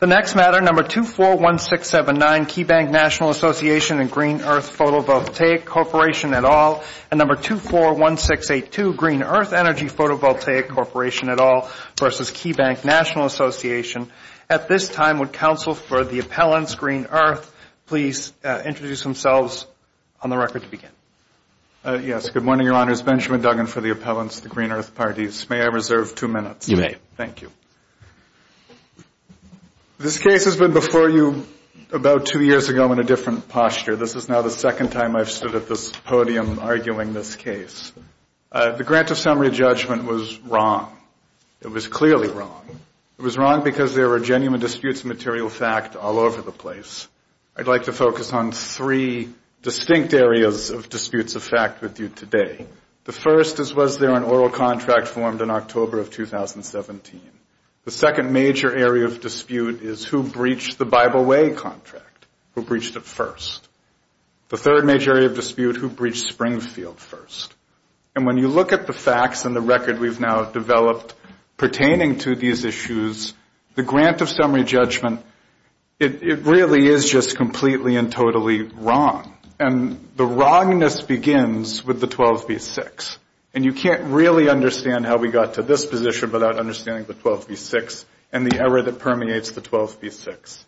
The next matter, No. 241679, Keybank National Association and Green Earth Photovoltaic Corporation et al., and No. 241682, Green Earth Energy Photovoltaic Corporation et al. versus Keybank National Association. At this time, would counsel for the appellants, Green Earth, please introduce themselves on the record to begin. Yes, good morning, Your Honors. Benjamin Duggan for the appellants, the Green Earth parties. May I reserve two minutes? You may. Thank you. This case has been before you about two years ago in a different posture. This is now the second time I've stood at this podium arguing this case. The grant of summary judgment was wrong. It was clearly wrong. It was wrong because there were genuine disputes of material fact all over the place. I'd like to focus on three distinct areas of disputes of fact with you today. The first is, was there an oral contract formed in October of 2017? The second major area of dispute is, who breached the Bible Way contract? Who breached it first? The third major area of dispute, who breached Springfield first? And when you look at the facts and the record we've now developed pertaining to these issues, the grant of summary judgment, it really is just completely and totally wrong. And the wrongness begins with the 12b-6. And you can't really understand how we got to this position without understanding the 12b-6 and the error that permeates the 12b-6.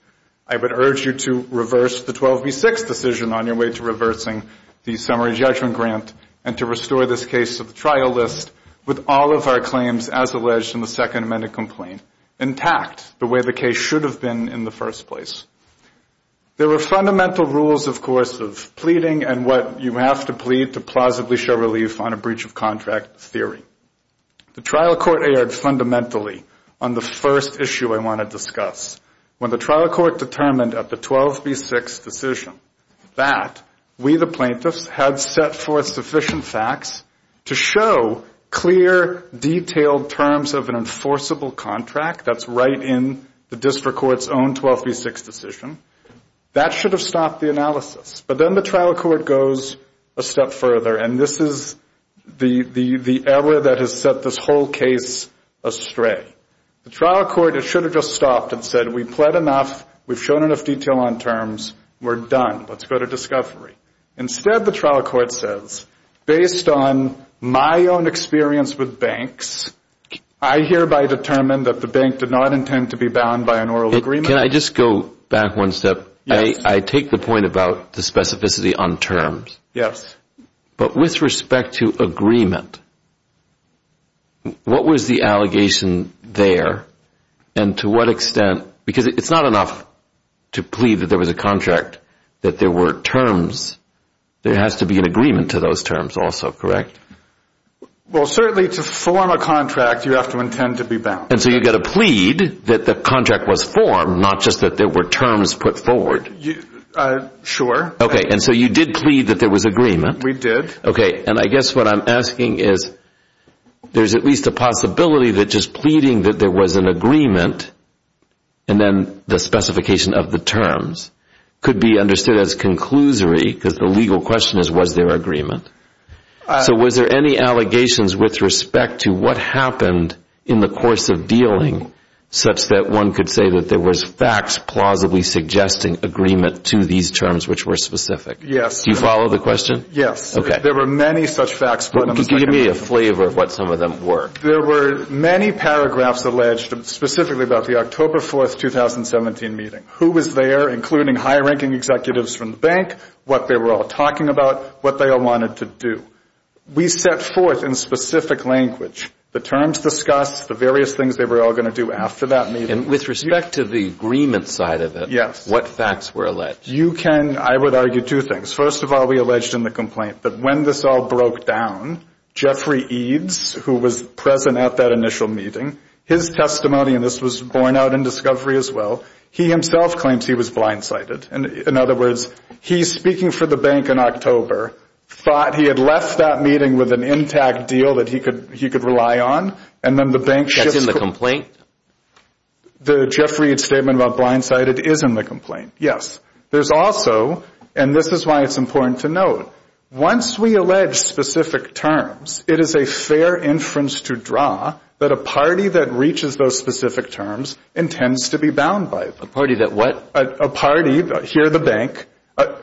I would urge you to reverse the 12b-6 decision on your way to reversing the summary judgment grant and to restore this case to the trial list with all of our claims, as alleged in the Second Amendment complaint, intact the way the case should have been in the first place. There were fundamental rules, of course, of pleading and what you have to plead to plausibly show relief on a breach of contract theory. The trial court erred fundamentally on the first issue I want to discuss. When the trial court determined at the 12b-6 decision that we, the plaintiffs, had set forth sufficient facts to show clear, detailed terms of an enforceable contract, that's right in the district court's own 12b-6 decision, that should have stopped the analysis. But then the trial court goes a step further, and this is the error that has set this whole case astray. The trial court, it should have just stopped and said, we've plead enough, we've shown enough detail on terms, we're done, let's go to discovery. Instead, the trial court says, based on my own experience with banks, I hereby determine that the bank did not intend to be bound by an oral agreement. Can I just go back one step? Yes. I take the point about the specificity on terms. Yes. But with respect to agreement, what was the allegation there, and to what extent, because it's not enough to plead that there was a contract, that there were terms. There has to be an agreement to those terms also, correct? Well, certainly to form a contract, you have to intend to be bound. And so you've got to plead that the contract was formed, not just that there were terms put forward. Sure. Okay, and so you did plead that there was agreement. We did. Okay, and I guess what I'm asking is, there's at least a possibility that just pleading that there was an agreement, and then the specification of the terms, could be understood as conclusory, because the legal question is, was there agreement? So was there any allegations with respect to what happened in the course of dealing, such that one could say that there was facts plausibly suggesting agreement to these terms which were specific? Yes. Do you follow the question? Yes. Okay. There were many such facts. Give me a flavor of what some of them were. There were many paragraphs alleged, specifically about the October 4, 2017 meeting. Who was there, including high-ranking executives from the bank, what they were all talking about, what they all wanted to do. We set forth in specific language the terms discussed, the various things they were all going to do after that meeting. And with respect to the agreement side of it. Yes. What facts were alleged? You can, I would argue two things. First of all, we alleged in the complaint that when this all broke down, Jeffrey Eads, who was present at that initial meeting, his testimony, and this was borne out in discovery as well, he himself claims he was blindsided. In other words, he's speaking for the bank in October, thought he had left that meeting with an intact deal that he could rely on, and then the bank shifts. That's in the complaint? The Jeffrey Eads statement about blindsided is in the complaint, yes. There's also, and this is why it's important to note, once we allege specific terms, it is a fair inference to draw that a party that reaches those specific terms intends to be bound by them. A party that what? A party, here the bank.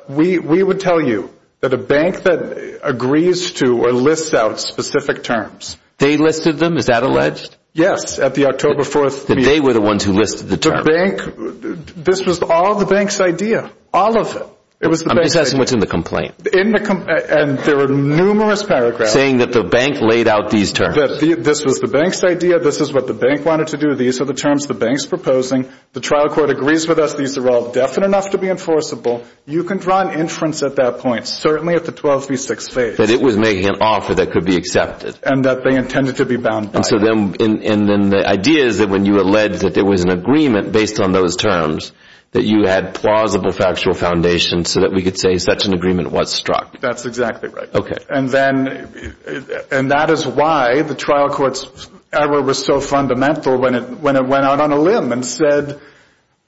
We would tell you that a bank that agrees to or lists out specific terms. They listed them? Is that alleged? Yes, at the October 4th meeting. That they were the ones who listed the terms? The bank, this was all the bank's idea. All of it. I'm just asking what's in the complaint. In the complaint, and there were numerous paragraphs. Saying that the bank laid out these terms. This was the bank's idea. This is what the bank wanted to do. These are the terms the bank's proposing. The trial court agrees with us. These are all definite enough to be enforceable. You can draw an inference at that point. Certainly at the 12 v. 6 phase. That it was making an offer that could be accepted. And that they intended to be bound by it. And so then the idea is that when you allege that there was an agreement based on those terms, that you had plausible factual foundation so that we could say such an agreement was struck. That's exactly right. Okay. And that is why the trial court's error was so fundamental when it went out on a limb. And said,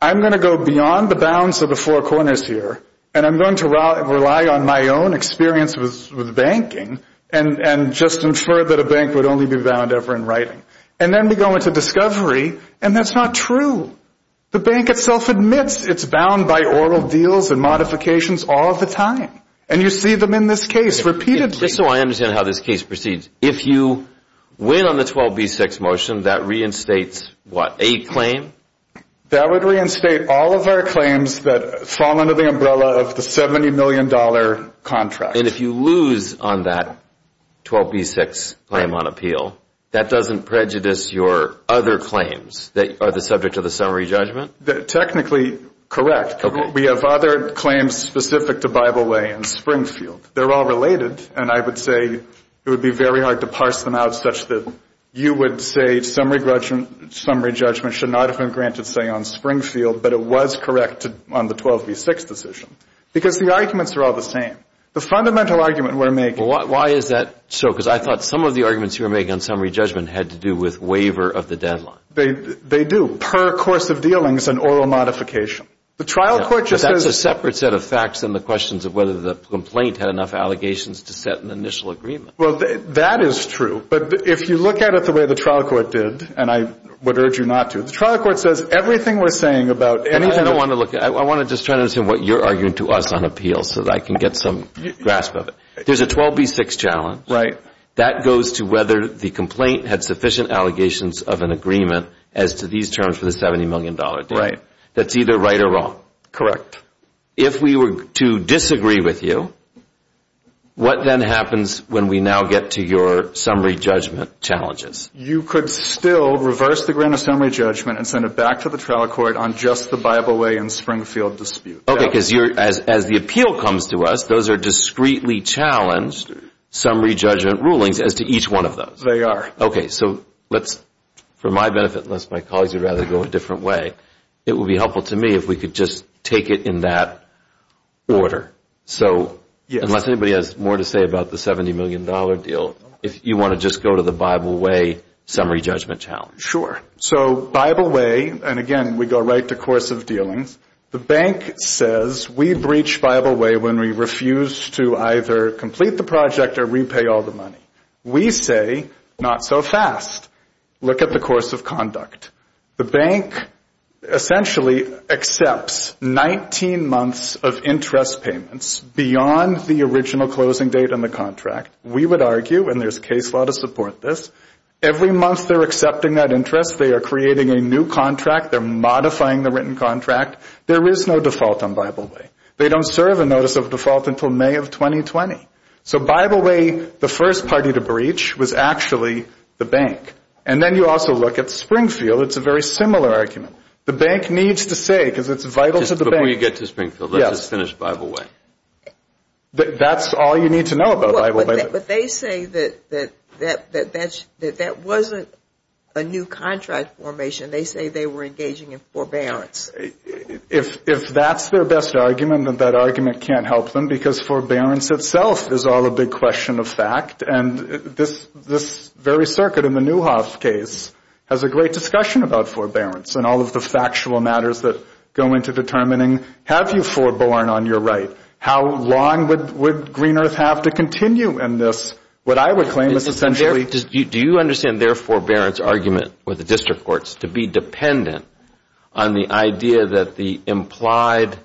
I'm going to go beyond the bounds of the four corners here. And I'm going to rely on my own experience with banking. And just infer that a bank would only be bound ever in writing. And then we go into discovery. And that's not true. The bank itself admits it's bound by oral deals and modifications all the time. And you see them in this case repeatedly. Just so I understand how this case proceeds. If you win on the 12 v. 6 motion, that reinstates what? A claim? That would reinstate all of our claims that fall under the umbrella of the $70 million contract. And if you lose on that 12 v. 6 claim on appeal, that doesn't prejudice your other claims that are the subject of the summary judgment? Technically, correct. We have other claims specific to Bible Way and Springfield. They're all related. And I would say it would be very hard to parse them out such that you would say summary judgment should not have been granted, say, on Springfield, but it was correct on the 12 v. 6 decision. Because the arguments are all the same. The fundamental argument we're making. Why is that so? Because I thought some of the arguments you were making on summary judgment had to do with waiver of the deadline. They do. Per course of dealings and oral modification. The trial court just says. That's a separate set of facts than the questions of whether the complaint had enough allegations to set an initial agreement. Well, that is true. But if you look at it the way the trial court did, and I would urge you not to, the trial court says everything we're saying about anything. I don't want to look. I want to just try to understand what you're arguing to us on appeal so that I can get some grasp of it. There's a 12 v. 6 challenge. Right. That goes to whether the complaint had sufficient allegations of an agreement as to these terms for the $70 million deadline. Right. That's either right or wrong. If we were to disagree with you, what then happens when we now get to your summary judgment challenges? You could still reverse the grant of summary judgment and send it back to the trial court on just the Bible Way and Springfield dispute. Okay. Because as the appeal comes to us, those are discreetly challenged summary judgment rulings as to each one of those. They are. Okay. So let's, for my benefit, unless my colleagues would rather go a different way, it would be helpful to me if we could just take it in that order. So unless anybody has more to say about the $70 million deal, if you want to just go to the Bible Way summary judgment challenge. Sure. So Bible Way, and again, we go right to course of dealings, the bank says we breach Bible Way when we refuse to either complete the project or repay all the money. We say not so fast. Look at the course of conduct. The bank essentially accepts 19 months of interest payments beyond the original closing date on the contract. We would argue, and there's case law to support this, every month they're accepting that interest. They are creating a new contract. They're modifying the written contract. There is no default on Bible Way. They don't serve a notice of default until May of 2020. So Bible Way, the first party to breach, was actually the bank. And then you also look at Springfield. It's a very similar argument. The bank needs to say, because it's vital to the bank. Before you get to Springfield, let's just finish Bible Way. That's all you need to know about Bible Way. But they say that that wasn't a new contract formation. They say they were engaging in forbearance. If that's their best argument, then that argument can't help them, because forbearance itself is all a big question of fact. And this very circuit in the Newhoff case has a great discussion about forbearance and all of the factual matters that go into determining, have you foreborne on your right? How long would Green Earth have to continue in this? What I would claim is essentially— Do you understand their forbearance argument with the district courts to be dependent on the idea that the implied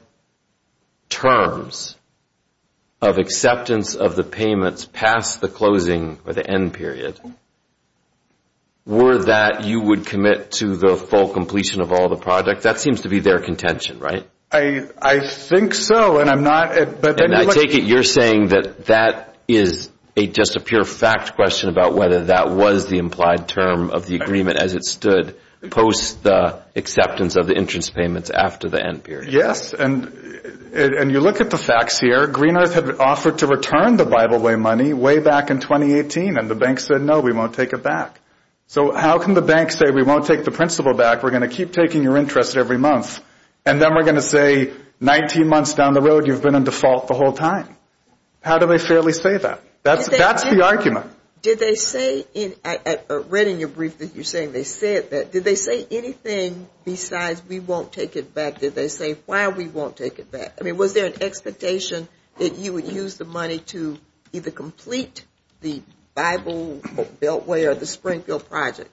terms of acceptance of the payments past the closing or the end period were that you would commit to the full completion of all the projects? That seems to be their contention, right? I think so, and I'm not— I take it you're saying that that is just a pure fact question about whether that was the implied term of the agreement as it stood post the acceptance of the interest payments after the end period. Yes, and you look at the facts here. Green Earth had offered to return the Bible Way money way back in 2018, and the bank said, no, we won't take it back. So how can the bank say, we won't take the principal back, we're going to keep taking your interest every month, and then we're going to say 19 months down the road you've been in default the whole time? How do they fairly say that? That's the argument. Did they say—I read in your brief that you're saying they said that. Did they say anything besides we won't take it back? Did they say why we won't take it back? I mean, was there an expectation that you would use the money to either complete the Bible Beltway or the Springfield project?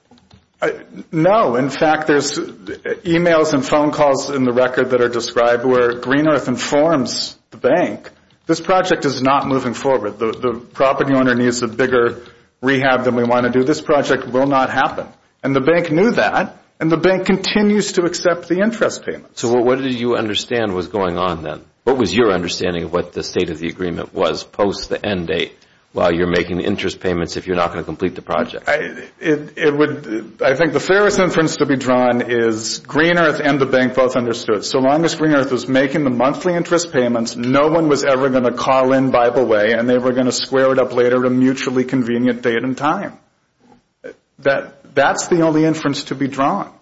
No. In fact, there's emails and phone calls in the record that are described where Green Earth informs the bank, this project is not moving forward. The property owner needs a bigger rehab than we want to do. This project will not happen. And the bank knew that, and the bank continues to accept the interest payments. So what did you understand was going on then? What was your understanding of what the state of the agreement was post the end date while you're making the interest payments if you're not going to complete the project? I think the fairest inference to be drawn is Green Earth and the bank both understood. So long as Green Earth was making the monthly interest payments, no one was ever going to call in Bible Way, and they were going to square it up later to mutually convenient date and time. That's the only inference to be drawn.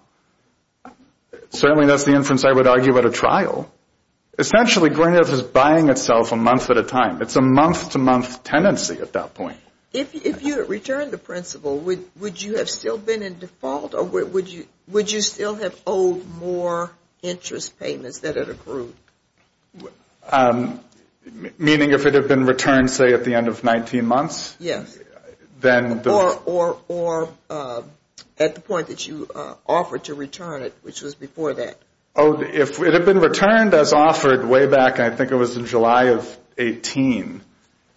Certainly, that's the inference I would argue at a trial. Essentially, Green Earth is buying itself a month at a time. It's a month-to-month tendency at that point. If you had returned the principal, would you have still been in default, or would you still have owed more interest payments that had accrued? Meaning if it had been returned, say, at the end of 19 months? Yes. Or at the point that you offered to return it, which was before that. If it had been returned as offered way back, I think it was in July of 18,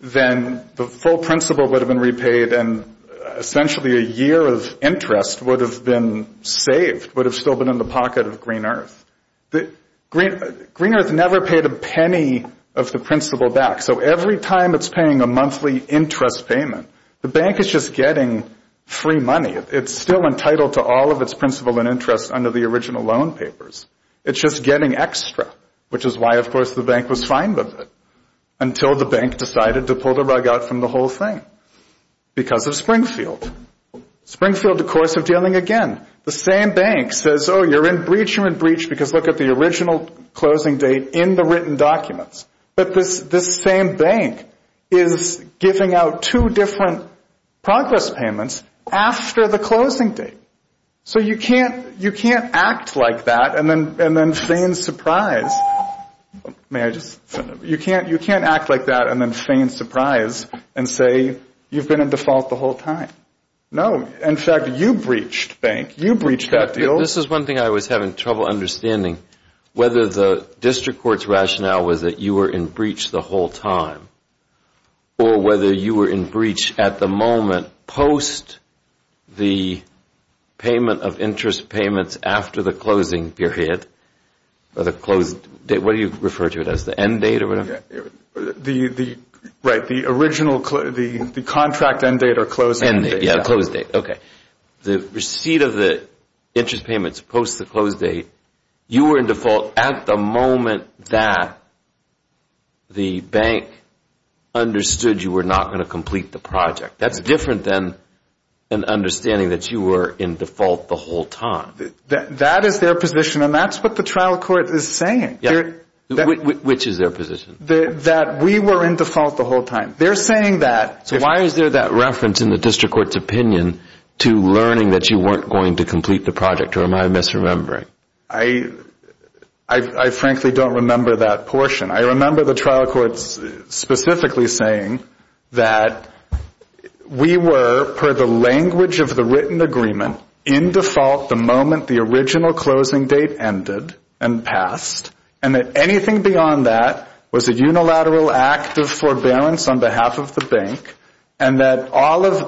then the full principal would have been repaid, and essentially a year of interest would have been saved, would have still been in the pocket of Green Earth. Green Earth never paid a penny of the principal back, so every time it's paying a monthly interest payment, the bank is just getting free money. It's still entitled to all of its principal and interest under the original loan papers. It's just getting extra, which is why, of course, the bank was fine with it, until the bank decided to pull the rug out from the whole thing because of Springfield. Springfield, of course, is dealing again. The same bank says, oh, you're in breach, you're in breach, because look at the original closing date in the written documents. But this same bank is giving out two different progress payments after the closing date. So you can't act like that and then feign surprise. You can't act like that and then feign surprise and say you've been in default the whole time. No, in fact, you breached, bank. You breached that deal. This is one thing I was having trouble understanding, whether the district court's rationale was that you were in breach the whole time or whether you were in breach at the moment post the payment of interest payments after the closing period or the closed date. What do you refer to it as, the end date or whatever? Right, the original contract end date or closing date. Yeah, the close date, okay. The receipt of the interest payments post the close date, you were in default at the moment that the bank understood you were not going to complete the project. That's different than understanding that you were in default the whole time. That is their position, and that's what the trial court is saying. Which is their position? That we were in default the whole time. They're saying that. So why is there that reference in the district court's opinion to learning that you weren't going to complete the project, or am I misremembering? I frankly don't remember that portion. I remember the trial court specifically saying that we were, per the language of the written agreement, in default the moment the original closing date ended and passed and that anything beyond that was a unilateral act of forbearance on behalf of the bank and that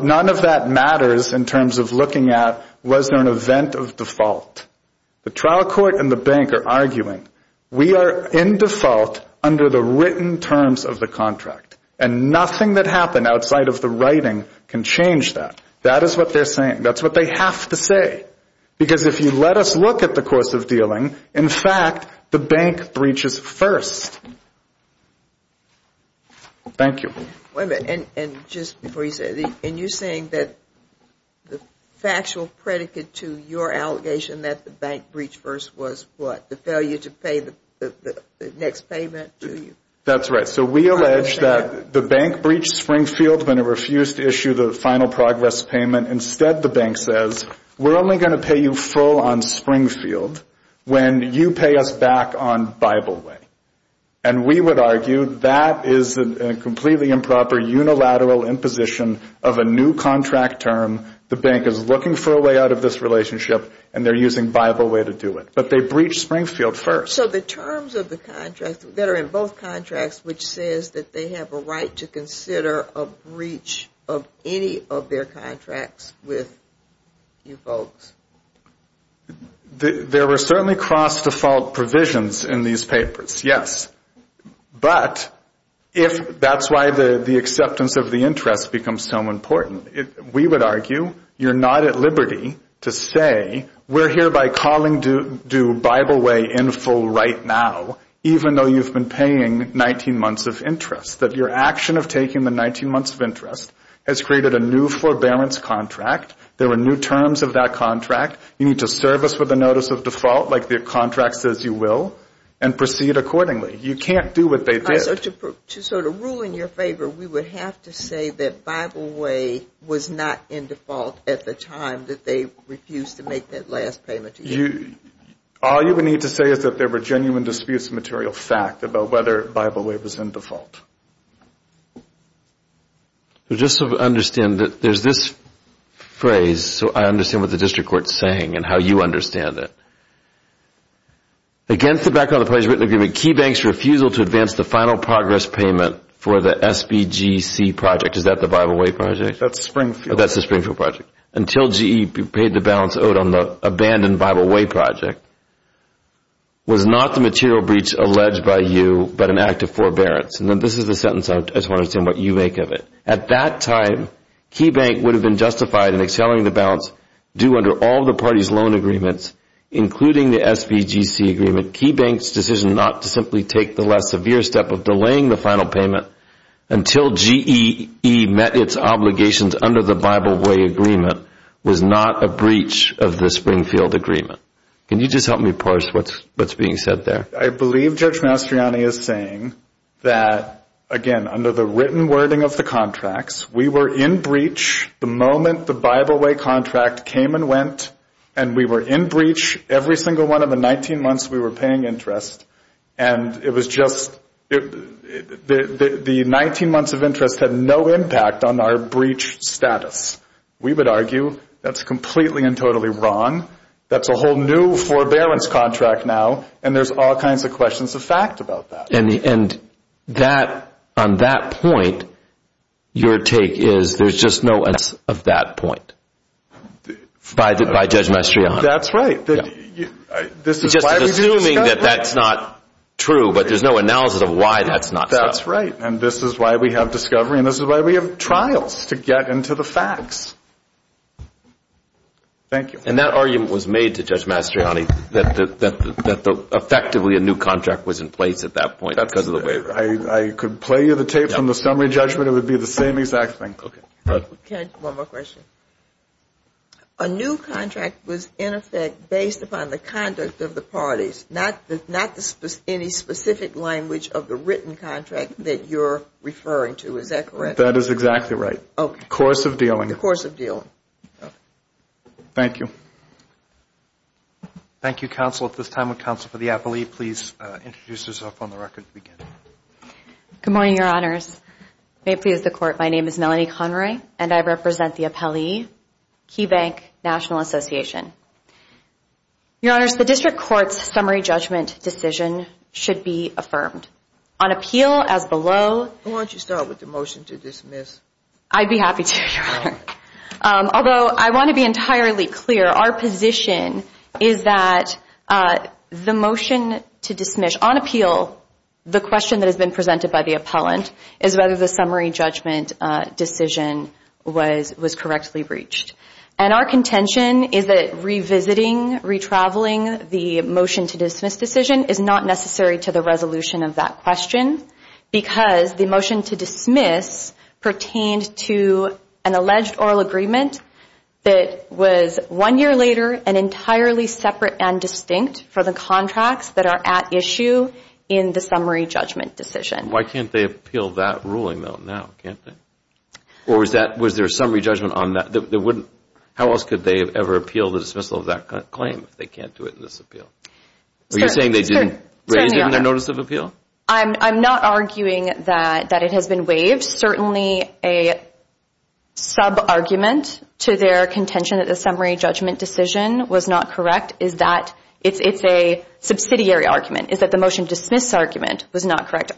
none of that matters in terms of looking at was there an event of default. The trial court and the bank are arguing, we are in default under the written terms of the contract, and nothing that happened outside of the writing can change that. That is what they're saying. That's what they have to say. Because if you let us look at the course of dealing, in fact, the bank breaches first. Thank you. Wait a minute, and just before you say that, and you're saying that the factual predicate to your allegation that the bank breached first was what? The failure to pay the next payment to you? That's right. So we allege that the bank breached Springfield when it refused to issue the final progress payment. Instead, the bank says, we're only going to pay you full on Springfield when you pay us back on Bible Way. And we would argue that is a completely improper unilateral imposition of a new contract term. The bank is looking for a way out of this relationship, and they're using Bible Way to do it. But they breached Springfield first. So the terms of the contract that are in both contracts, which says that they have a right to consider a breach of any of their contracts with you folks. There were certainly cross-default provisions in these papers, yes. But that's why the acceptance of the interest becomes so important. We would argue you're not at liberty to say we're hereby calling due Bible Way in full right now, even though you've been paying 19 months of interest, that your action of taking the 19 months of interest has created a new forbearance contract. There were new terms of that contract. You need to serve us with a notice of default, like the contract says you will, and proceed accordingly. You can't do what they did. So to sort of rule in your favor, we would have to say that Bible Way was not in default at the time that they refused to make that last payment to you. All you would need to say is that there were genuine disputes of material fact about whether Bible Way was in default. Just so I understand, there's this phrase, so I understand what the district court is saying and how you understand it. Against the background of the party's written agreement, KeyBank's refusal to advance the final progress payment for the SBGC project, is that the Bible Way project? That's Springfield. That's the Springfield project. Until GE paid the balance owed on the abandoned Bible Way project, was not the material breach alleged by you but an act of forbearance. And this is the sentence I just want to understand what you make of it. At that time, KeyBank would have been justified in accelerating the balance due under all the party's loan agreements, including the SBGC agreement. KeyBank's decision not to simply take the last severe step of delaying the final payment until GE met its obligations under the Bible Way agreement was not a breach of the Springfield agreement. Can you just help me parse what's being said there? I believe Judge Mastriani is saying that, again, under the written wording of the contracts, we were in breach the moment the Bible Way contract came and went, and we were in breach every single one of the 19 months we were paying interest, and it was just the 19 months of interest had no impact on our breach status. We would argue that's completely and totally wrong. That's a whole new forbearance contract now, and there's all kinds of questions of fact about that. And on that point, your take is there's just no evidence of that point by Judge Mastriani. That's right. Just assuming that that's not true, but there's no analysis of why that's not so. That's right, and this is why we have discovery, and this is why we have trials to get into the facts. Thank you. And that argument was made to Judge Mastriani that effectively a new contract was in place at that point because of the waiver. I could play you the tape from the summary judgment. It would be the same exact thing. One more question. A new contract was, in effect, based upon the conduct of the parties, not any specific language of the written contract that you're referring to. Is that correct? That is exactly right. Okay. The course of dealing. The course of dealing. Thank you. Thank you, counsel. At this time, would counsel for the appellee please introduce herself on the record to begin. Good morning, your honors. May it please the court, my name is Melanie Conroy, and I represent the appellee, Key Bank National Association. Your honors, the district court's summary judgment decision should be affirmed. On appeal, as below. Why don't you start with the motion to dismiss? I'd be happy to, your honor. Although, I want to be entirely clear. Our position is that the motion to dismiss on appeal, the question that has been presented by the appellant, is whether the summary judgment decision was correctly reached. And our contention is that revisiting, retraveling the motion to dismiss decision is not necessary to the resolution of that question because the motion to dismiss pertained to an alleged oral agreement that was one year later and entirely separate and distinct for the contracts that are at issue in the summary judgment decision. Why can't they appeal that ruling, though, now, can't they? Or was there a summary judgment on that? How else could they have ever appealed the dismissal of that claim if they can't do it in this appeal? Are you saying they didn't raise it in their notice of appeal? I'm not arguing that it has been waived. Certainly, a sub-argument to their contention that the summary judgment decision was not correct is that it's a subsidiary argument, is that the motion to dismiss argument was not correct.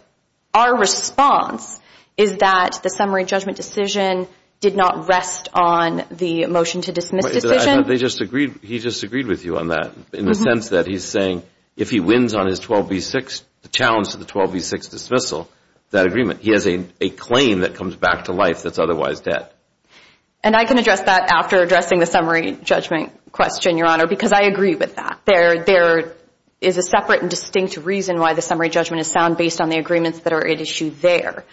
Our response is that the summary judgment decision did not rest on the motion to dismiss decision. He disagreed with you on that in the sense that he's saying if he wins on his 12B6, the challenge to the 12B6 dismissal, that agreement, he has a claim that comes back to life that's otherwise dead. And I can address that after addressing the summary judgment question, Your Honor, because I agree with that. There is a separate and distinct reason why the summary judgment is sound based on the agreements that are at issue there.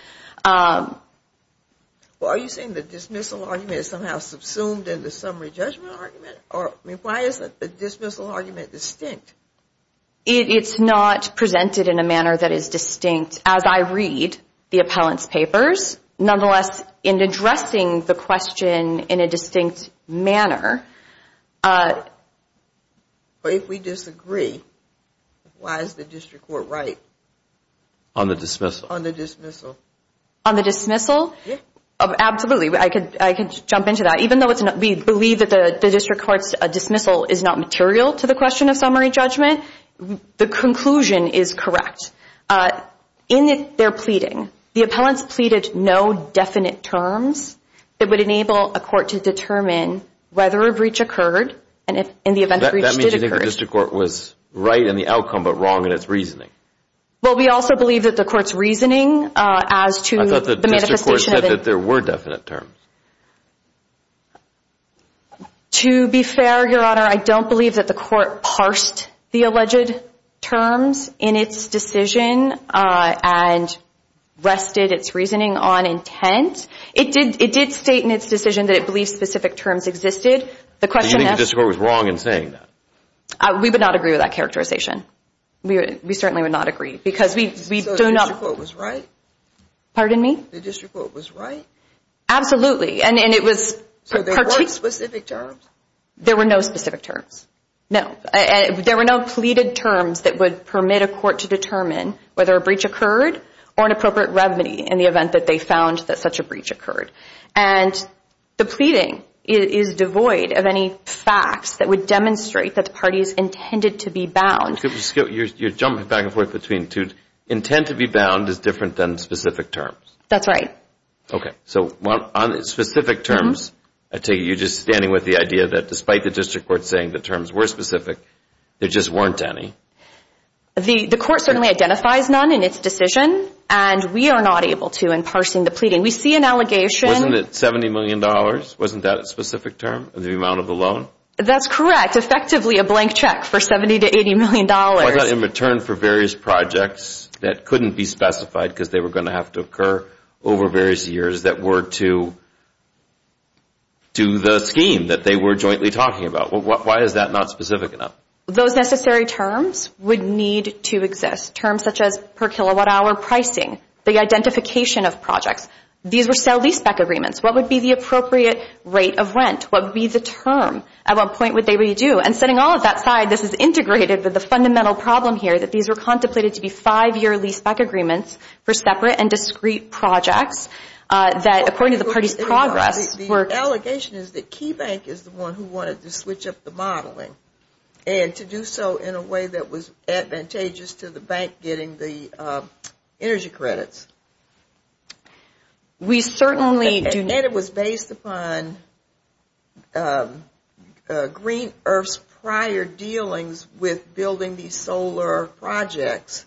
Are you saying the dismissal argument is somehow subsumed in the summary judgment argument? Why is the dismissal argument distinct? It's not presented in a manner that is distinct. As I read the appellant's papers, nonetheless, in addressing the question in a distinct manner. If we disagree, why is the district court right? On the dismissal? On the dismissal. On the dismissal? Yeah. Absolutely. I could jump into that. Even though we believe that the district court's dismissal is not material to the question of summary judgment, the conclusion is correct. In their pleading, the appellants pleaded no definite terms that would enable a court to determine whether a breach occurred and if in the event a breach did occur. That means you think the district court was right in the outcome but wrong in its reasoning. Well, we also believe that the court's reasoning as to the manifestation of it. I thought the district court said that there were definite terms. To be fair, Your Honor, I don't believe that the court parsed the alleged terms in its decision and rested its reasoning on intent. It did state in its decision that it believed specific terms existed. Do you think the district court was wrong in saying that? We would not agree with that characterization. We certainly would not agree because we do not. So the district court was right? Pardon me? The district court was right? Absolutely. So there weren't specific terms? There were no specific terms, no. There were no pleaded terms that would permit a court to determine whether a breach occurred or an appropriate remedy in the event that they found that such a breach occurred. And the pleading is devoid of any facts that would demonstrate that the parties intended to be bound You're jumping back and forth between two. Intent to be bound is different than specific terms. That's right. So on specific terms, I take it you're just standing with the idea that despite the district court saying the terms were specific, there just weren't any. The court certainly identifies none in its decision, and we are not able to in parsing the pleading. We see an allegation Wasn't it $70 million? Wasn't that a specific term, the amount of the loan? That's correct. Effectively a blank check for $70 to $80 million. Why not in return for various projects that couldn't be specified because they were going to have to occur over various years that were to the scheme that they were jointly talking about? Why is that not specific enough? Those necessary terms would need to exist. Terms such as per kilowatt hour pricing, the identification of projects. These were sale-leaseback agreements. What would be the appropriate rate of rent? What would be the term? At what point would they redo? And setting all of that aside, this is integrated with the fundamental problem here, that these were contemplated to be five-year leaseback agreements for separate and discrete projects that according to the party's progress were The allegation is that KeyBank is the one who wanted to switch up the modeling and to do so in a way that was advantageous to the bank getting the energy credits. We certainly do not And it was based upon Green Earth's prior dealings with building these solar projects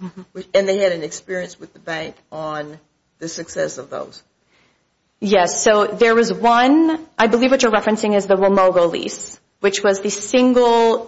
and they had an experience with the bank on the success of those. Yes. So there was one, I believe what you're referencing is the Wimogo lease, which was the single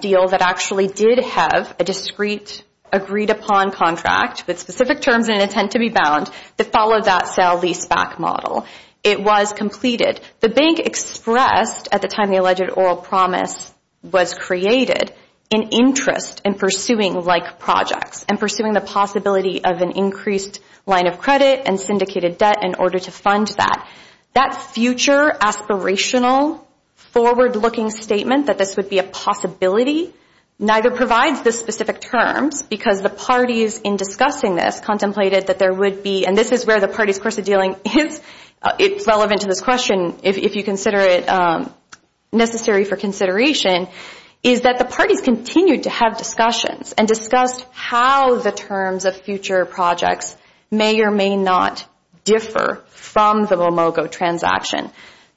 deal that actually did have a discrete agreed-upon contract with specific terms and intent to be bound to follow that sale-leaseback model. It was completed. The bank expressed, at the time the alleged oral promise was created, an interest in pursuing like projects and pursuing the possibility of an increased line of credit and syndicated debt in order to fund that. That future aspirational forward-looking statement that this would be a possibility neither provides the specific terms because the parties in discussing this contemplated that there would be and this is where the party's course of dealing is. It's relevant to this question if you consider it necessary for consideration is that the parties continued to have discussions and discussed how the terms of future projects may or may not differ from the Wimogo transaction.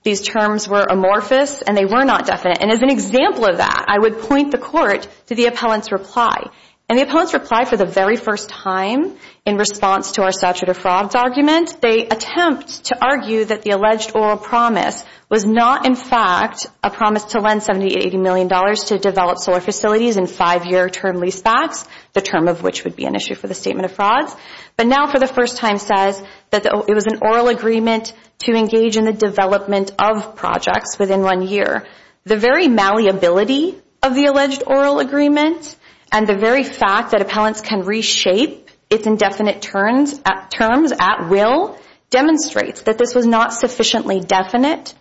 These terms were amorphous and they were not definite. And as an example of that, I would point the court to the appellant's reply. And the appellant's reply for the very first time in response to our statute of frauds argument, they attempt to argue that the alleged oral promise was not in fact a promise to lend $70 to $80 million to develop solar facilities in five-year term leasebacks, the term of which would be an issue for the statement of frauds, but now for the first time says that it was an oral agreement to engage in the development of projects within one year. The very malleability of the alleged oral agreement and the very fact that appellants can reshape its indefinite terms at will demonstrates that this was not sufficiently definite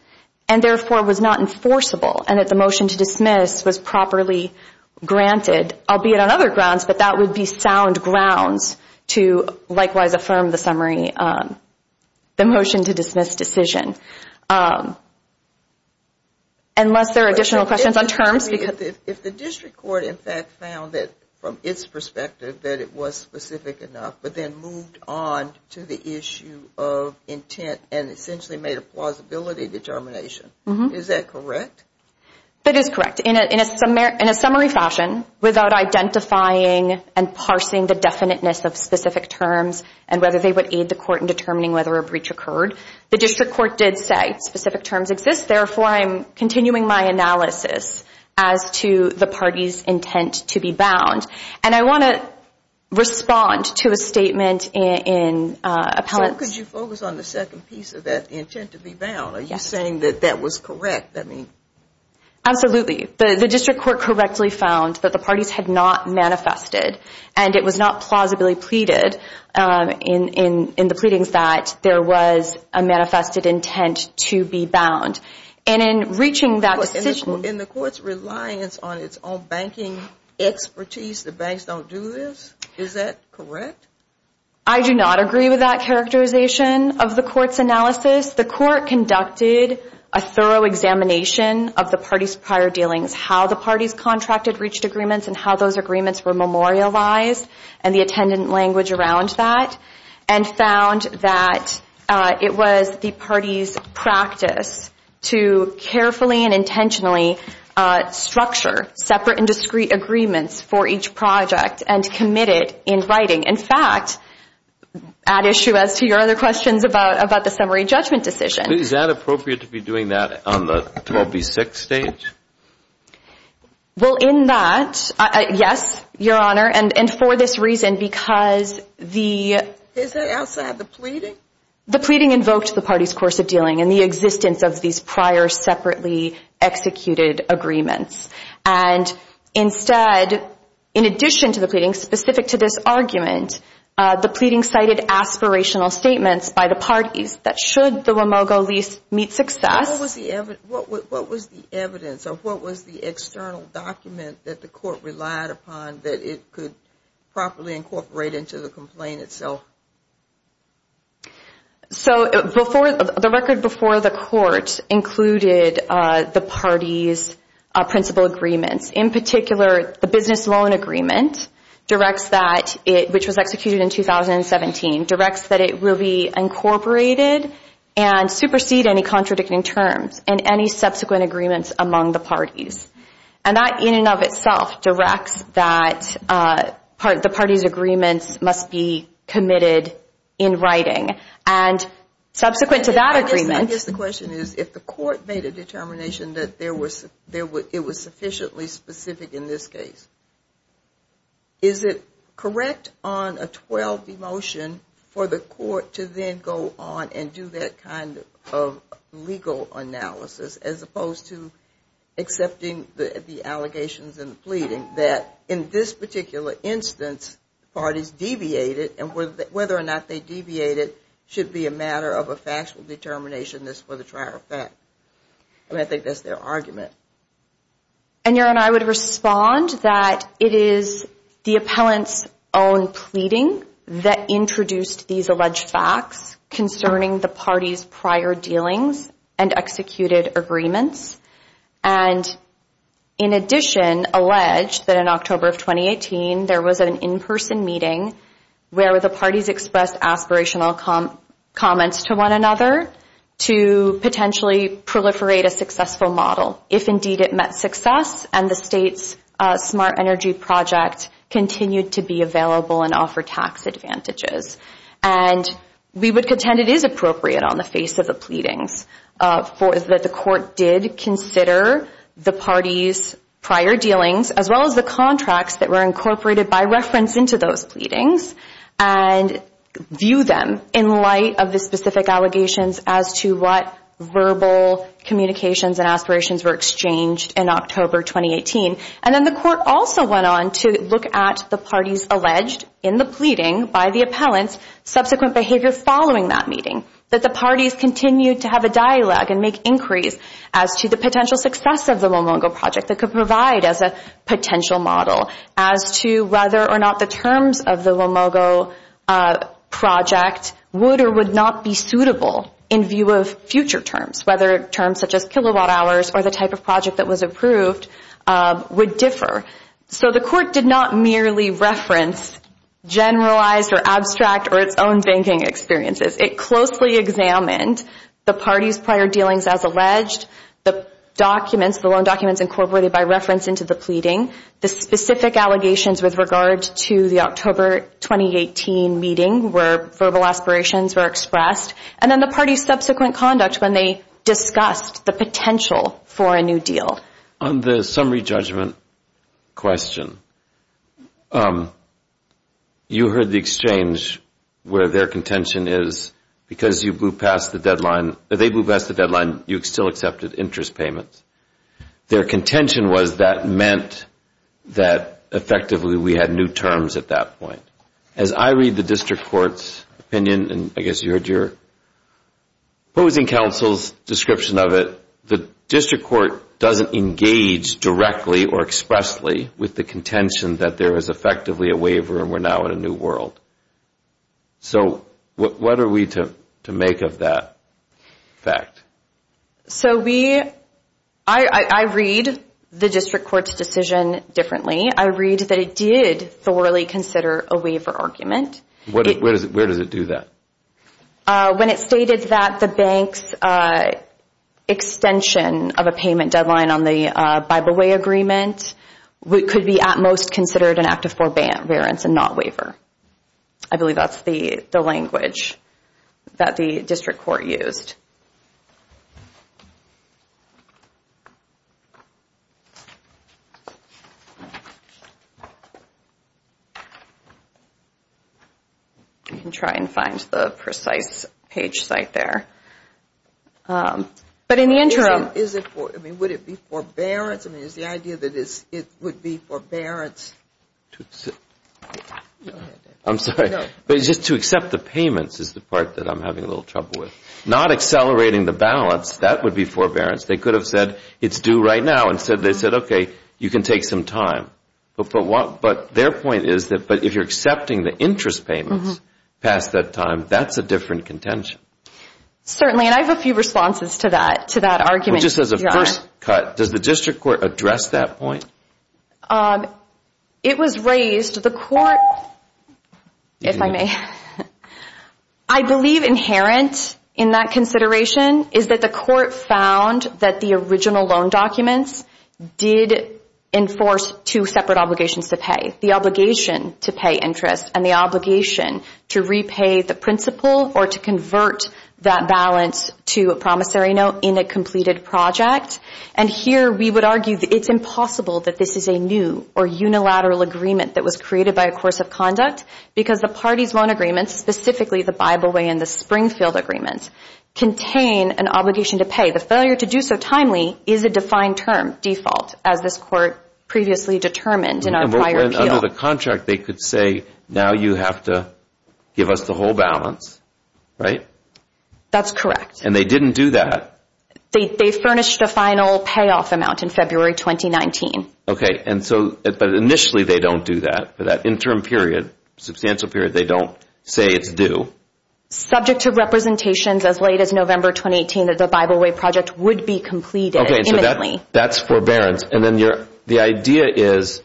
and therefore was not enforceable and that the motion to dismiss was properly granted, albeit on other grounds, but that would be sound grounds to likewise affirm the motion to dismiss decision. Unless there are additional questions on terms. If the district court in fact found that from its perspective that it was specific enough but then moved on to the issue of intent and essentially made a plausibility determination, is that correct? That is correct. In a summary fashion, without identifying and parsing the definiteness of specific terms and whether they would aid the court in determining whether a breach occurred, the district court did say specific terms exist, therefore I'm continuing my analysis as to the party's intent to be bound. And I want to respond to a statement in appellate. How could you focus on the second piece of that intent to be bound? Are you saying that that was correct? Absolutely. The district court correctly found that the parties had not manifested and it was not plausibly pleaded in the pleadings that there was a manifested intent to be bound. And in reaching that decision... In the court's reliance on its own banking expertise, the banks don't do this, is that correct? I do not agree with that characterization of the court's analysis. The court conducted a thorough examination of the parties' prior dealings, how the parties contracted reached agreements and how those agreements were memorialized and the attendant language around that and found that it was the parties' practice to carefully and intentionally structure separate and discrete agreements for each project and commit it in writing. In fact, add issue as to your other questions about the summary judgment decision. Is that appropriate to be doing that on the 12B6 stage? Well, in that, yes, Your Honor, and for this reason because the... Is that outside the pleading? The pleading invoked the parties' course of dealing and the existence of these prior separately executed agreements. And instead, in addition to the pleading specific to this argument, the pleading cited aspirational statements by the parties that should the WAMOGO lease meet success... What was the evidence or what was the external document that the court relied upon that it could properly incorporate into the complaint itself? So the record before the court included the parties' principal agreements. In particular, the business loan agreement, which was executed in 2017, directs that it will be incorporated and supersede any contradicting terms and any subsequent agreements among the parties. And that in and of itself directs that the parties' agreements must be committed in writing. And subsequent to that agreement... I guess the question is if the court made a determination that it was sufficiently specific in this case, is it correct on a 12B motion for the court to then go on and do that kind of legal analysis as opposed to accepting the allegations and the pleading that in this particular instance, parties deviated and whether or not they deviated should be a matter of a factual determination that's for the trier of fact. I mean, I think that's their argument. And, Your Honor, I would respond that it is the appellant's own pleading that introduced these alleged facts concerning the parties' prior dealings and executed agreements. And in addition, allege that in October of 2018, there was an in-person meeting where the parties expressed aspirational comments to one another to potentially proliferate a successful model, if indeed it met success and the state's smart energy project continued to be available and offer tax advantages. And we would contend it is appropriate on the face of the pleadings that the court did consider the parties' prior dealings as well as the contracts that were incorporated by reference into those pleadings and view them in light of the specific allegations as to what verbal communications and aspirations were exchanged in October 2018. And then the court also went on to look at the parties alleged in the pleading by the appellant's subsequent behavior following that meeting, that the parties continued to have a dialogue and make inquiries as to the potential success of the Lomongo project that could provide as a potential model as to whether or not the terms of the Lomongo project would or would not be suitable in view of future terms, whether terms such as kilowatt hours or the type of project that was approved would differ. So the court did not merely reference generalized or abstract or its own banking experiences. It closely examined the parties' prior dealings as alleged, the documents, the loan documents incorporated by reference into the pleading, the specific allegations with regard to the October 2018 meeting where verbal aspirations were expressed, and then the parties' subsequent conduct when they discussed the potential for a new deal. On the summary judgment question, you heard the exchange where their contention is because you blew past the deadline, they blew past the deadline, you still accepted interest payments. Their contention was that meant that effectively we had new terms at that point. As I read the district court's opinion, and I guess you heard your opposing counsel's description of it, the district court doesn't engage directly or expressly with the contention that there is effectively a waiver and we're now in a new world. So what are we to make of that fact? So I read the district court's decision differently. I read that it did thoroughly consider a waiver argument. Where does it do that? When it stated that the bank's extension of a payment deadline on the Bible Way Agreement could be at most considered an act of forbearance and not waiver. I believe that's the language that the district court used. You can try and find the precise page site there. But in the interim. Is it for, I mean, would it be forbearance? I mean, is the idea that it would be forbearance? I'm sorry. No. But it's just to accept the payments is the part that I'm having a little trouble with. Not accept the payments. Accelerating the balance, that would be forbearance. They could have said it's due right now. Instead they said, okay, you can take some time. But their point is that if you're accepting the interest payments past that time, that's a different contention. Certainly, and I have a few responses to that argument. Just as a first cut, does the district court address that point? It was raised. If I may. I believe inherent in that consideration is that the court found that the original loan documents did enforce two separate obligations to pay. The obligation to pay interest and the obligation to repay the principal or to convert that balance to a promissory note in a completed project. And here we would argue that it's impossible that this is a new or unilateral agreement that was created by a course of conduct because the parties' loan agreements, specifically the Bible Way and the Springfield Agreements, contain an obligation to pay. The failure to do so timely is a defined term, default, as this court previously determined in our prior appeal. Under the contract they could say, now you have to give us the whole balance, right? That's correct. And they didn't do that. They furnished a final payoff amount in February 2019. Okay, but initially they don't do that. For that interim period, substantial period, they don't say it's due. Subject to representations as late as November 2018 that the Bible Way project would be completed imminently. Okay, so that's forbearance. And then the idea is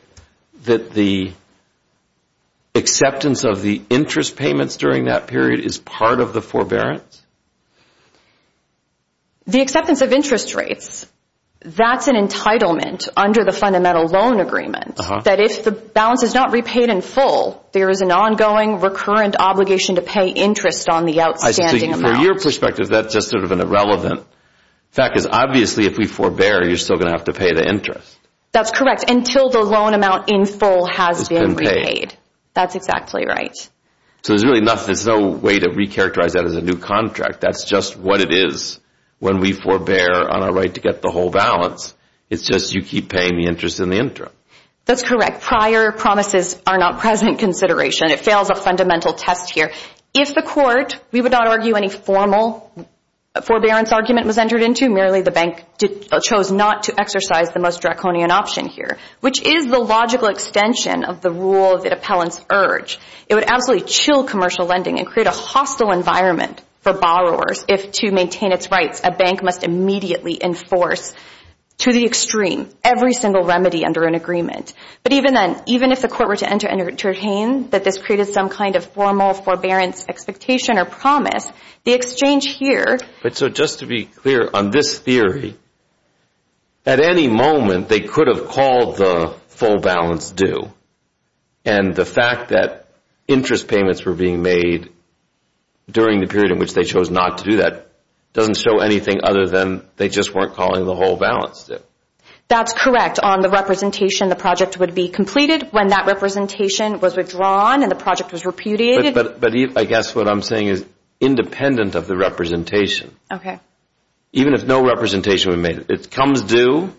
that the acceptance of the interest payments during that period is part of the forbearance? The acceptance of interest rates, that's an entitlement under the fundamental loan agreement that if the balance is not repaid in full, there is an ongoing recurrent obligation to pay interest on the outstanding amount. So from your perspective, that's just sort of an irrelevant fact because obviously if we forbear, you're still going to have to pay the interest. That's correct, until the loan amount in full has been repaid. That's exactly right. So there's really no way to recharacterize that as a new contract. That's just what it is when we forbear on our right to get the whole balance. It's just you keep paying the interest in the interim. That's correct. Prior promises are not present consideration. It fails a fundamental test here. If the court, we would not argue any formal forbearance argument was entered into. Merely the bank chose not to exercise the most draconian option here, which is the logical extension of the rule of the appellant's urge. It would absolutely chill commercial lending and create a hostile environment for borrowers. If to maintain its rights, a bank must immediately enforce to the extreme every single remedy under an agreement. But even then, even if the court were to entertain that this created some kind of formal forbearance expectation or promise, the exchange here— So just to be clear, on this theory, at any moment they could have called the full balance due. And the fact that interest payments were being made during the period in which they chose not to do that doesn't show anything other than they just weren't calling the whole balance due. That's correct. On the representation, the project would be completed. When that representation was withdrawn and the project was repudiated— But I guess what I'm saying is independent of the representation. Okay. Even if no representation were made, it comes due.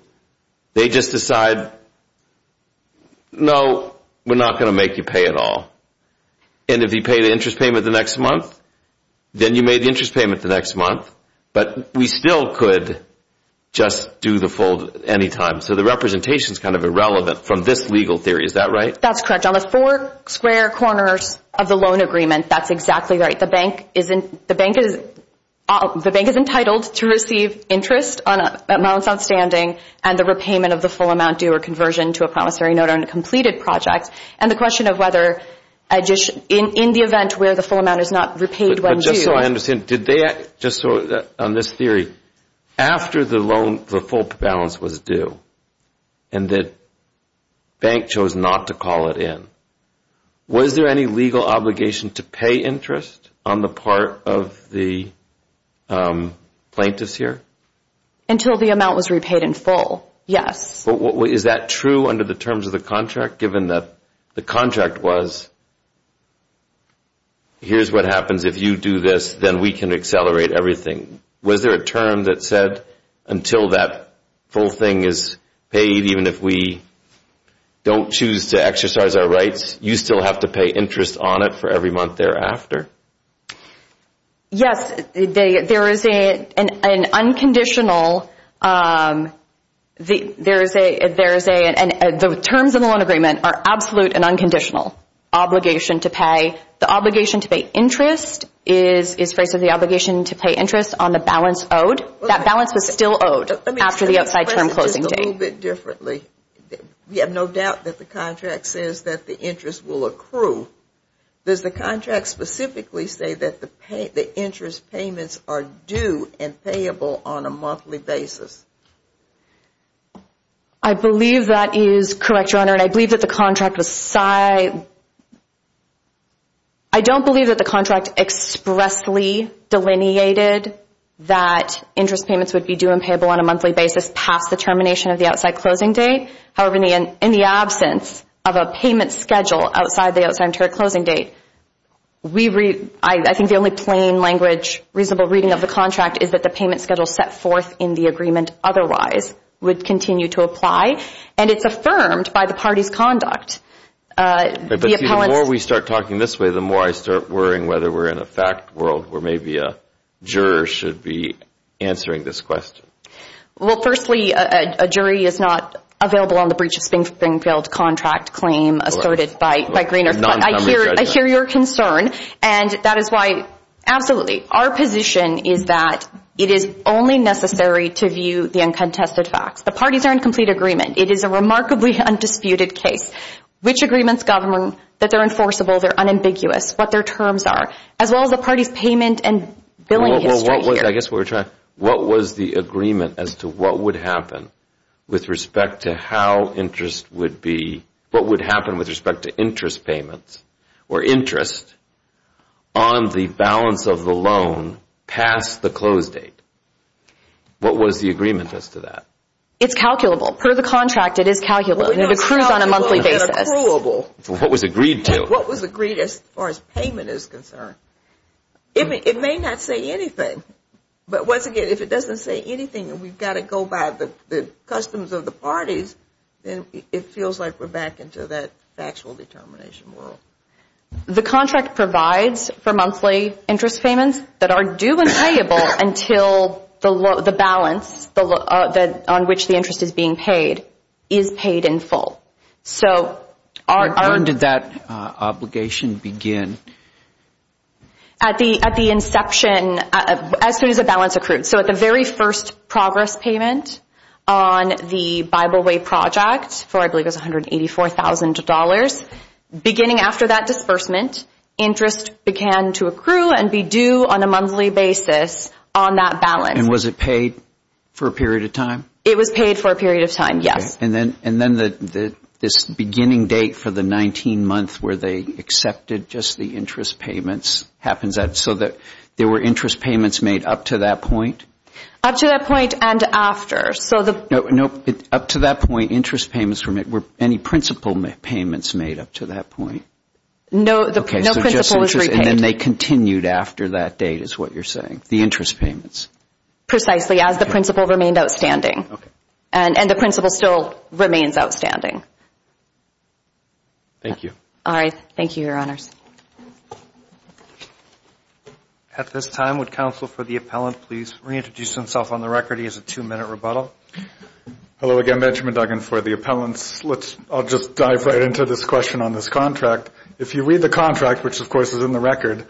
They just decide, no, we're not going to make you pay at all. And if you pay the interest payment the next month, then you made the interest payment the next month. But we still could just do the full any time. So the representation is kind of irrelevant from this legal theory. Is that right? That's correct. On the four square corners of the loan agreement, that's exactly right. The bank is entitled to receive interest on a balance outstanding and the repayment of the full amount due or conversion to a promissory note on a completed project. And the question of whether in the event where the full amount is not repaid when due— But just so I understand, on this theory, after the loan, the full balance was due, and the bank chose not to call it in, was there any legal obligation to pay interest on the part of the plaintiffs here? Until the amount was repaid in full, yes. Is that true under the terms of the contract, given that the contract was, here's what happens if you do this, then we can accelerate everything? Was there a term that said until that full thing is paid, even if we don't choose to exercise our rights, you still have to pay interest on it for every month thereafter? Yes. There is an unconditional— The terms of the loan agreement are absolute and unconditional obligation to pay. The obligation to pay interest is basically the obligation to pay interest on the balance owed. That balance was still owed after the outside term closing date. A little bit differently, we have no doubt that the contract says that the interest will accrue. Does the contract specifically say that the interest payments are due and payable on a monthly basis? I believe that is correct, Your Honor, and I believe that the contract was— I don't believe that the contract expressly delineated that interest payments would be due and payable on a monthly basis past the termination of the outside closing date. However, in the absence of a payment schedule outside the outside term closing date, I think the only plain language, reasonable reading of the contract is that the payment schedule set forth in the agreement otherwise would continue to apply, and it's affirmed by the party's conduct. The more we start talking this way, the more I start worrying whether we're in a fact world where maybe a juror should be answering this question. Well, firstly, a jury is not available on the breach of Springfield contract claim asserted by Greenert. I hear your concern, and that is why—absolutely. Our position is that it is only necessary to view the uncontested facts. The parties are in complete agreement. It is a remarkably undisputed case. Which agreements govern that they're enforceable, they're unambiguous, what their terms are, as well as the party's payment and billing history. I guess we're trying—what was the agreement as to what would happen with respect to how interest would be—what would happen with respect to interest payments or interest on the balance of the loan past the close date? What was the agreement as to that? It's calculable. Per the contract, it is calculable. It accrues on a monthly basis. What was agreed to? What was agreed as far as payment is concerned? It may not say anything, but once again, if it doesn't say anything and we've got to go by the customs of the parties, then it feels like we're back into that factual determination world. The contract provides for monthly interest payments that are due and payable until the balance on which the interest is being paid is paid in full. When did that obligation begin? At the inception, as soon as the balance accrued. So at the very first progress payment on the Bible Way project for, I believe, $184,000, beginning after that disbursement, interest began to accrue and be due on a monthly basis on that balance. And was it paid for a period of time? It was paid for a period of time, yes. And then this beginning date for the 19-month where they accepted just the interest payments, so there were interest payments made up to that point? Up to that point and after. Up to that point, interest payments were made. Were any principal payments made up to that point? No, no principal was repaid. And then they continued after that date is what you're saying, the interest payments? Precisely, as the principal remained outstanding. Okay. And the principal still remains outstanding. Thank you. All right, thank you, Your Honors. At this time, would counsel for the appellant please reintroduce himself on the record? He has a two-minute rebuttal. Hello again, Benjamin Duggan for the appellants. I'll just dive right into this question on this contract. If you read the contract, which, of course, is in the record,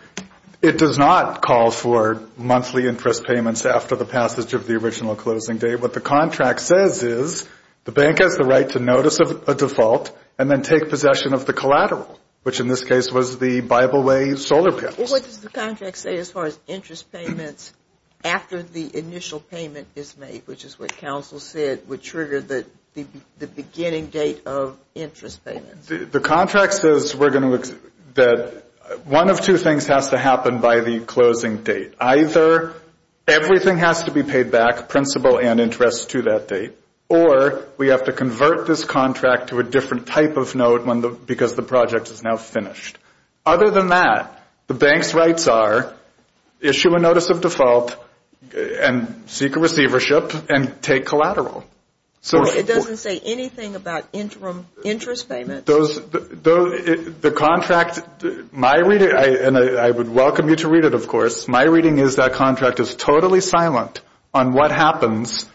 it does not call for monthly interest payments after the passage of the original closing date, what the contract says is the bank has the right to notice a default and then take possession of the collateral, which in this case was the Bible Way solar panels. What does the contract say as far as interest payments after the initial payment is made, which is what counsel said would trigger the beginning date of interest payments? The contract says that one of two things has to happen by the closing date. Either everything has to be paid back, principal and interest, to that date, or we have to convert this contract to a different type of note because the project is now finished. Other than that, the bank's rights are issue a notice of default and seek a receivership and take collateral. It doesn't say anything about interim interest payments. The contract, my reading, and I would welcome you to read it, of course, my reading is that contract is totally silent on what happens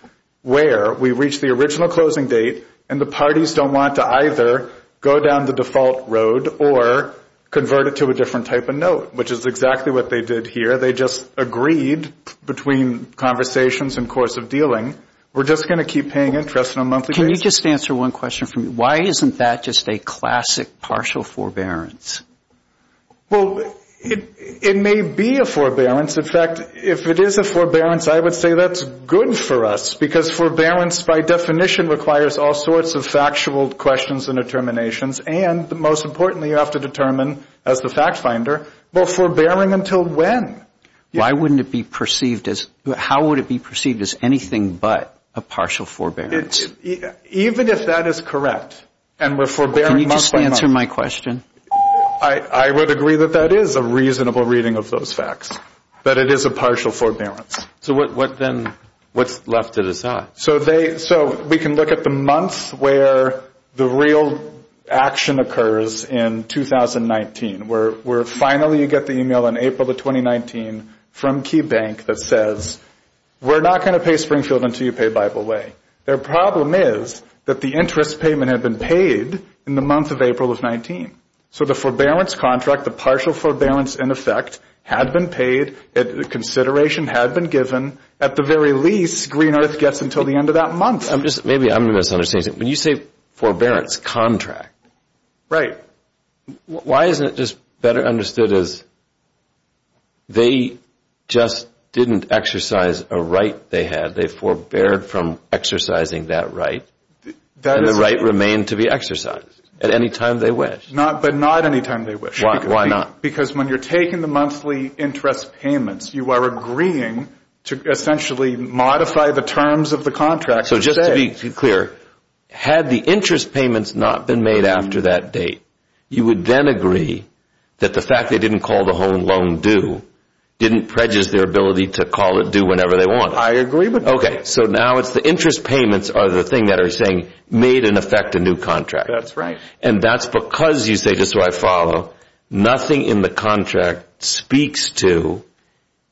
where we reach the original closing date and the parties don't want to either go down the default road or convert it to a different type of note, which is exactly what they did here. They just agreed between conversations and course of dealing, we're just going to keep paying interest on a monthly basis. Can you just answer one question for me? Why isn't that just a classic partial forbearance? Well, it may be a forbearance. In fact, if it is a forbearance, I would say that's good for us because forbearance by definition requires all sorts of factual questions and determinations and, most importantly, you have to determine as the fact finder, well, forbearing until when? Why wouldn't it be perceived as, how would it be perceived as anything but a partial forbearance? Even if that is correct and we're forbearing month by month. Can you just answer my question? I would agree that that is a reasonable reading of those facts, that it is a partial forbearance. So what then, what's left to decide? So we can look at the month where the real action occurs in 2019, where finally you get the email in April of 2019 from Key Bank that says, we're not going to pay Springfield until you pay Bible Way. Their problem is that the interest payment had been paid in the month of April of 19. So the forbearance contract, the partial forbearance in effect, had been paid, the consideration had been given. At the very least, Green Earth gets until the end of that month. Maybe I'm misunderstanding. When you say forbearance contract, why isn't it just better understood as they just didn't exercise a right they had. They forbeared from exercising that right. And the right remained to be exercised at any time they wished. But not any time they wished. Why not? Because when you're taking the monthly interest payments, you are agreeing to essentially modify the terms of the contract. So just to be clear, had the interest payments not been made after that date, you would then agree that the fact they didn't call the whole loan due didn't prejudice their ability to call it due whenever they want. I agree with that. Okay. So now it's the interest payments are the thing that are saying, made in effect a new contract. That's right. And that's because you say, just so I follow, nothing in the contract speaks to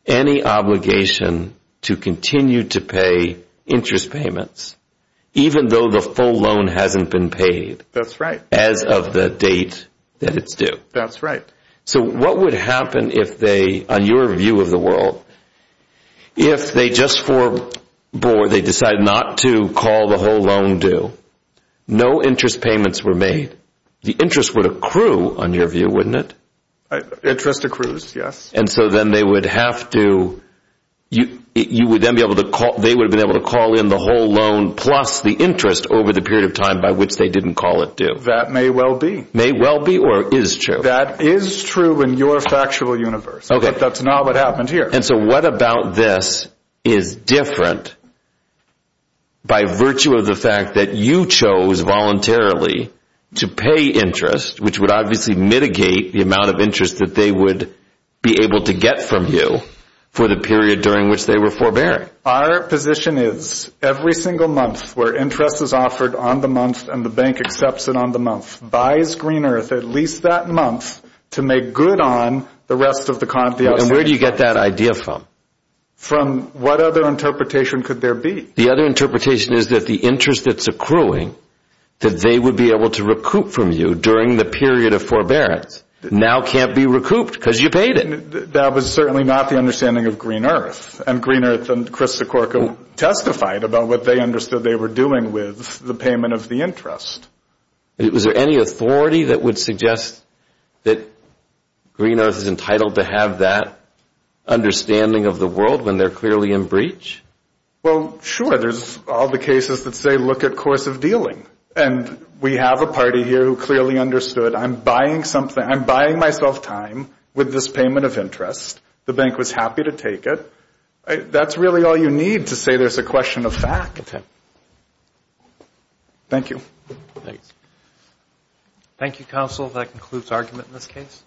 any obligation to continue to pay interest payments even though the full loan hasn't been paid. That's right. As of the date that it's due. That's right. So what would happen if they, on your view of the world, if they just forbore, they decide not to call the whole loan due, no interest payments were made, the interest would accrue on your view, wouldn't it? Interest accrues, yes. And so then they would have to, you would then be able to call, they would have been able to call in the whole loan plus the interest over the period of time by which they didn't call it due. That may well be. May well be or is true? That is true in your factual universe. Okay. But that's not what happened here. And so what about this is different by virtue of the fact that you chose voluntarily to pay interest, which would obviously mitigate the amount of interest that they would be able to get from you for the period during which they were forbearing? Our position is every single month where interest is offered on the month and the bank accepts it on the month, buys Green Earth at least that month to make good on the rest of the estimation. And where do you get that idea from? From what other interpretation could there be? The other interpretation is that the interest that's accruing, that they would be able to recoup from you during the period of forbearance, now can't be recouped because you paid it. That was certainly not the understanding of Green Earth. And Green Earth and Chris Sikorka testified about what they understood they were doing with the payment of the interest. Was there any authority that would suggest that Green Earth is entitled to have that understanding of the world when they're clearly in breach? Well, sure. There's all the cases that say look at course of dealing. And we have a party here who clearly understood I'm buying something, I'm buying myself time with this payment of interest. The bank was happy to take it. That's really all you need to say there's a question of fact. Thank you. Thanks. Thank you, counsel. That concludes argument in this case.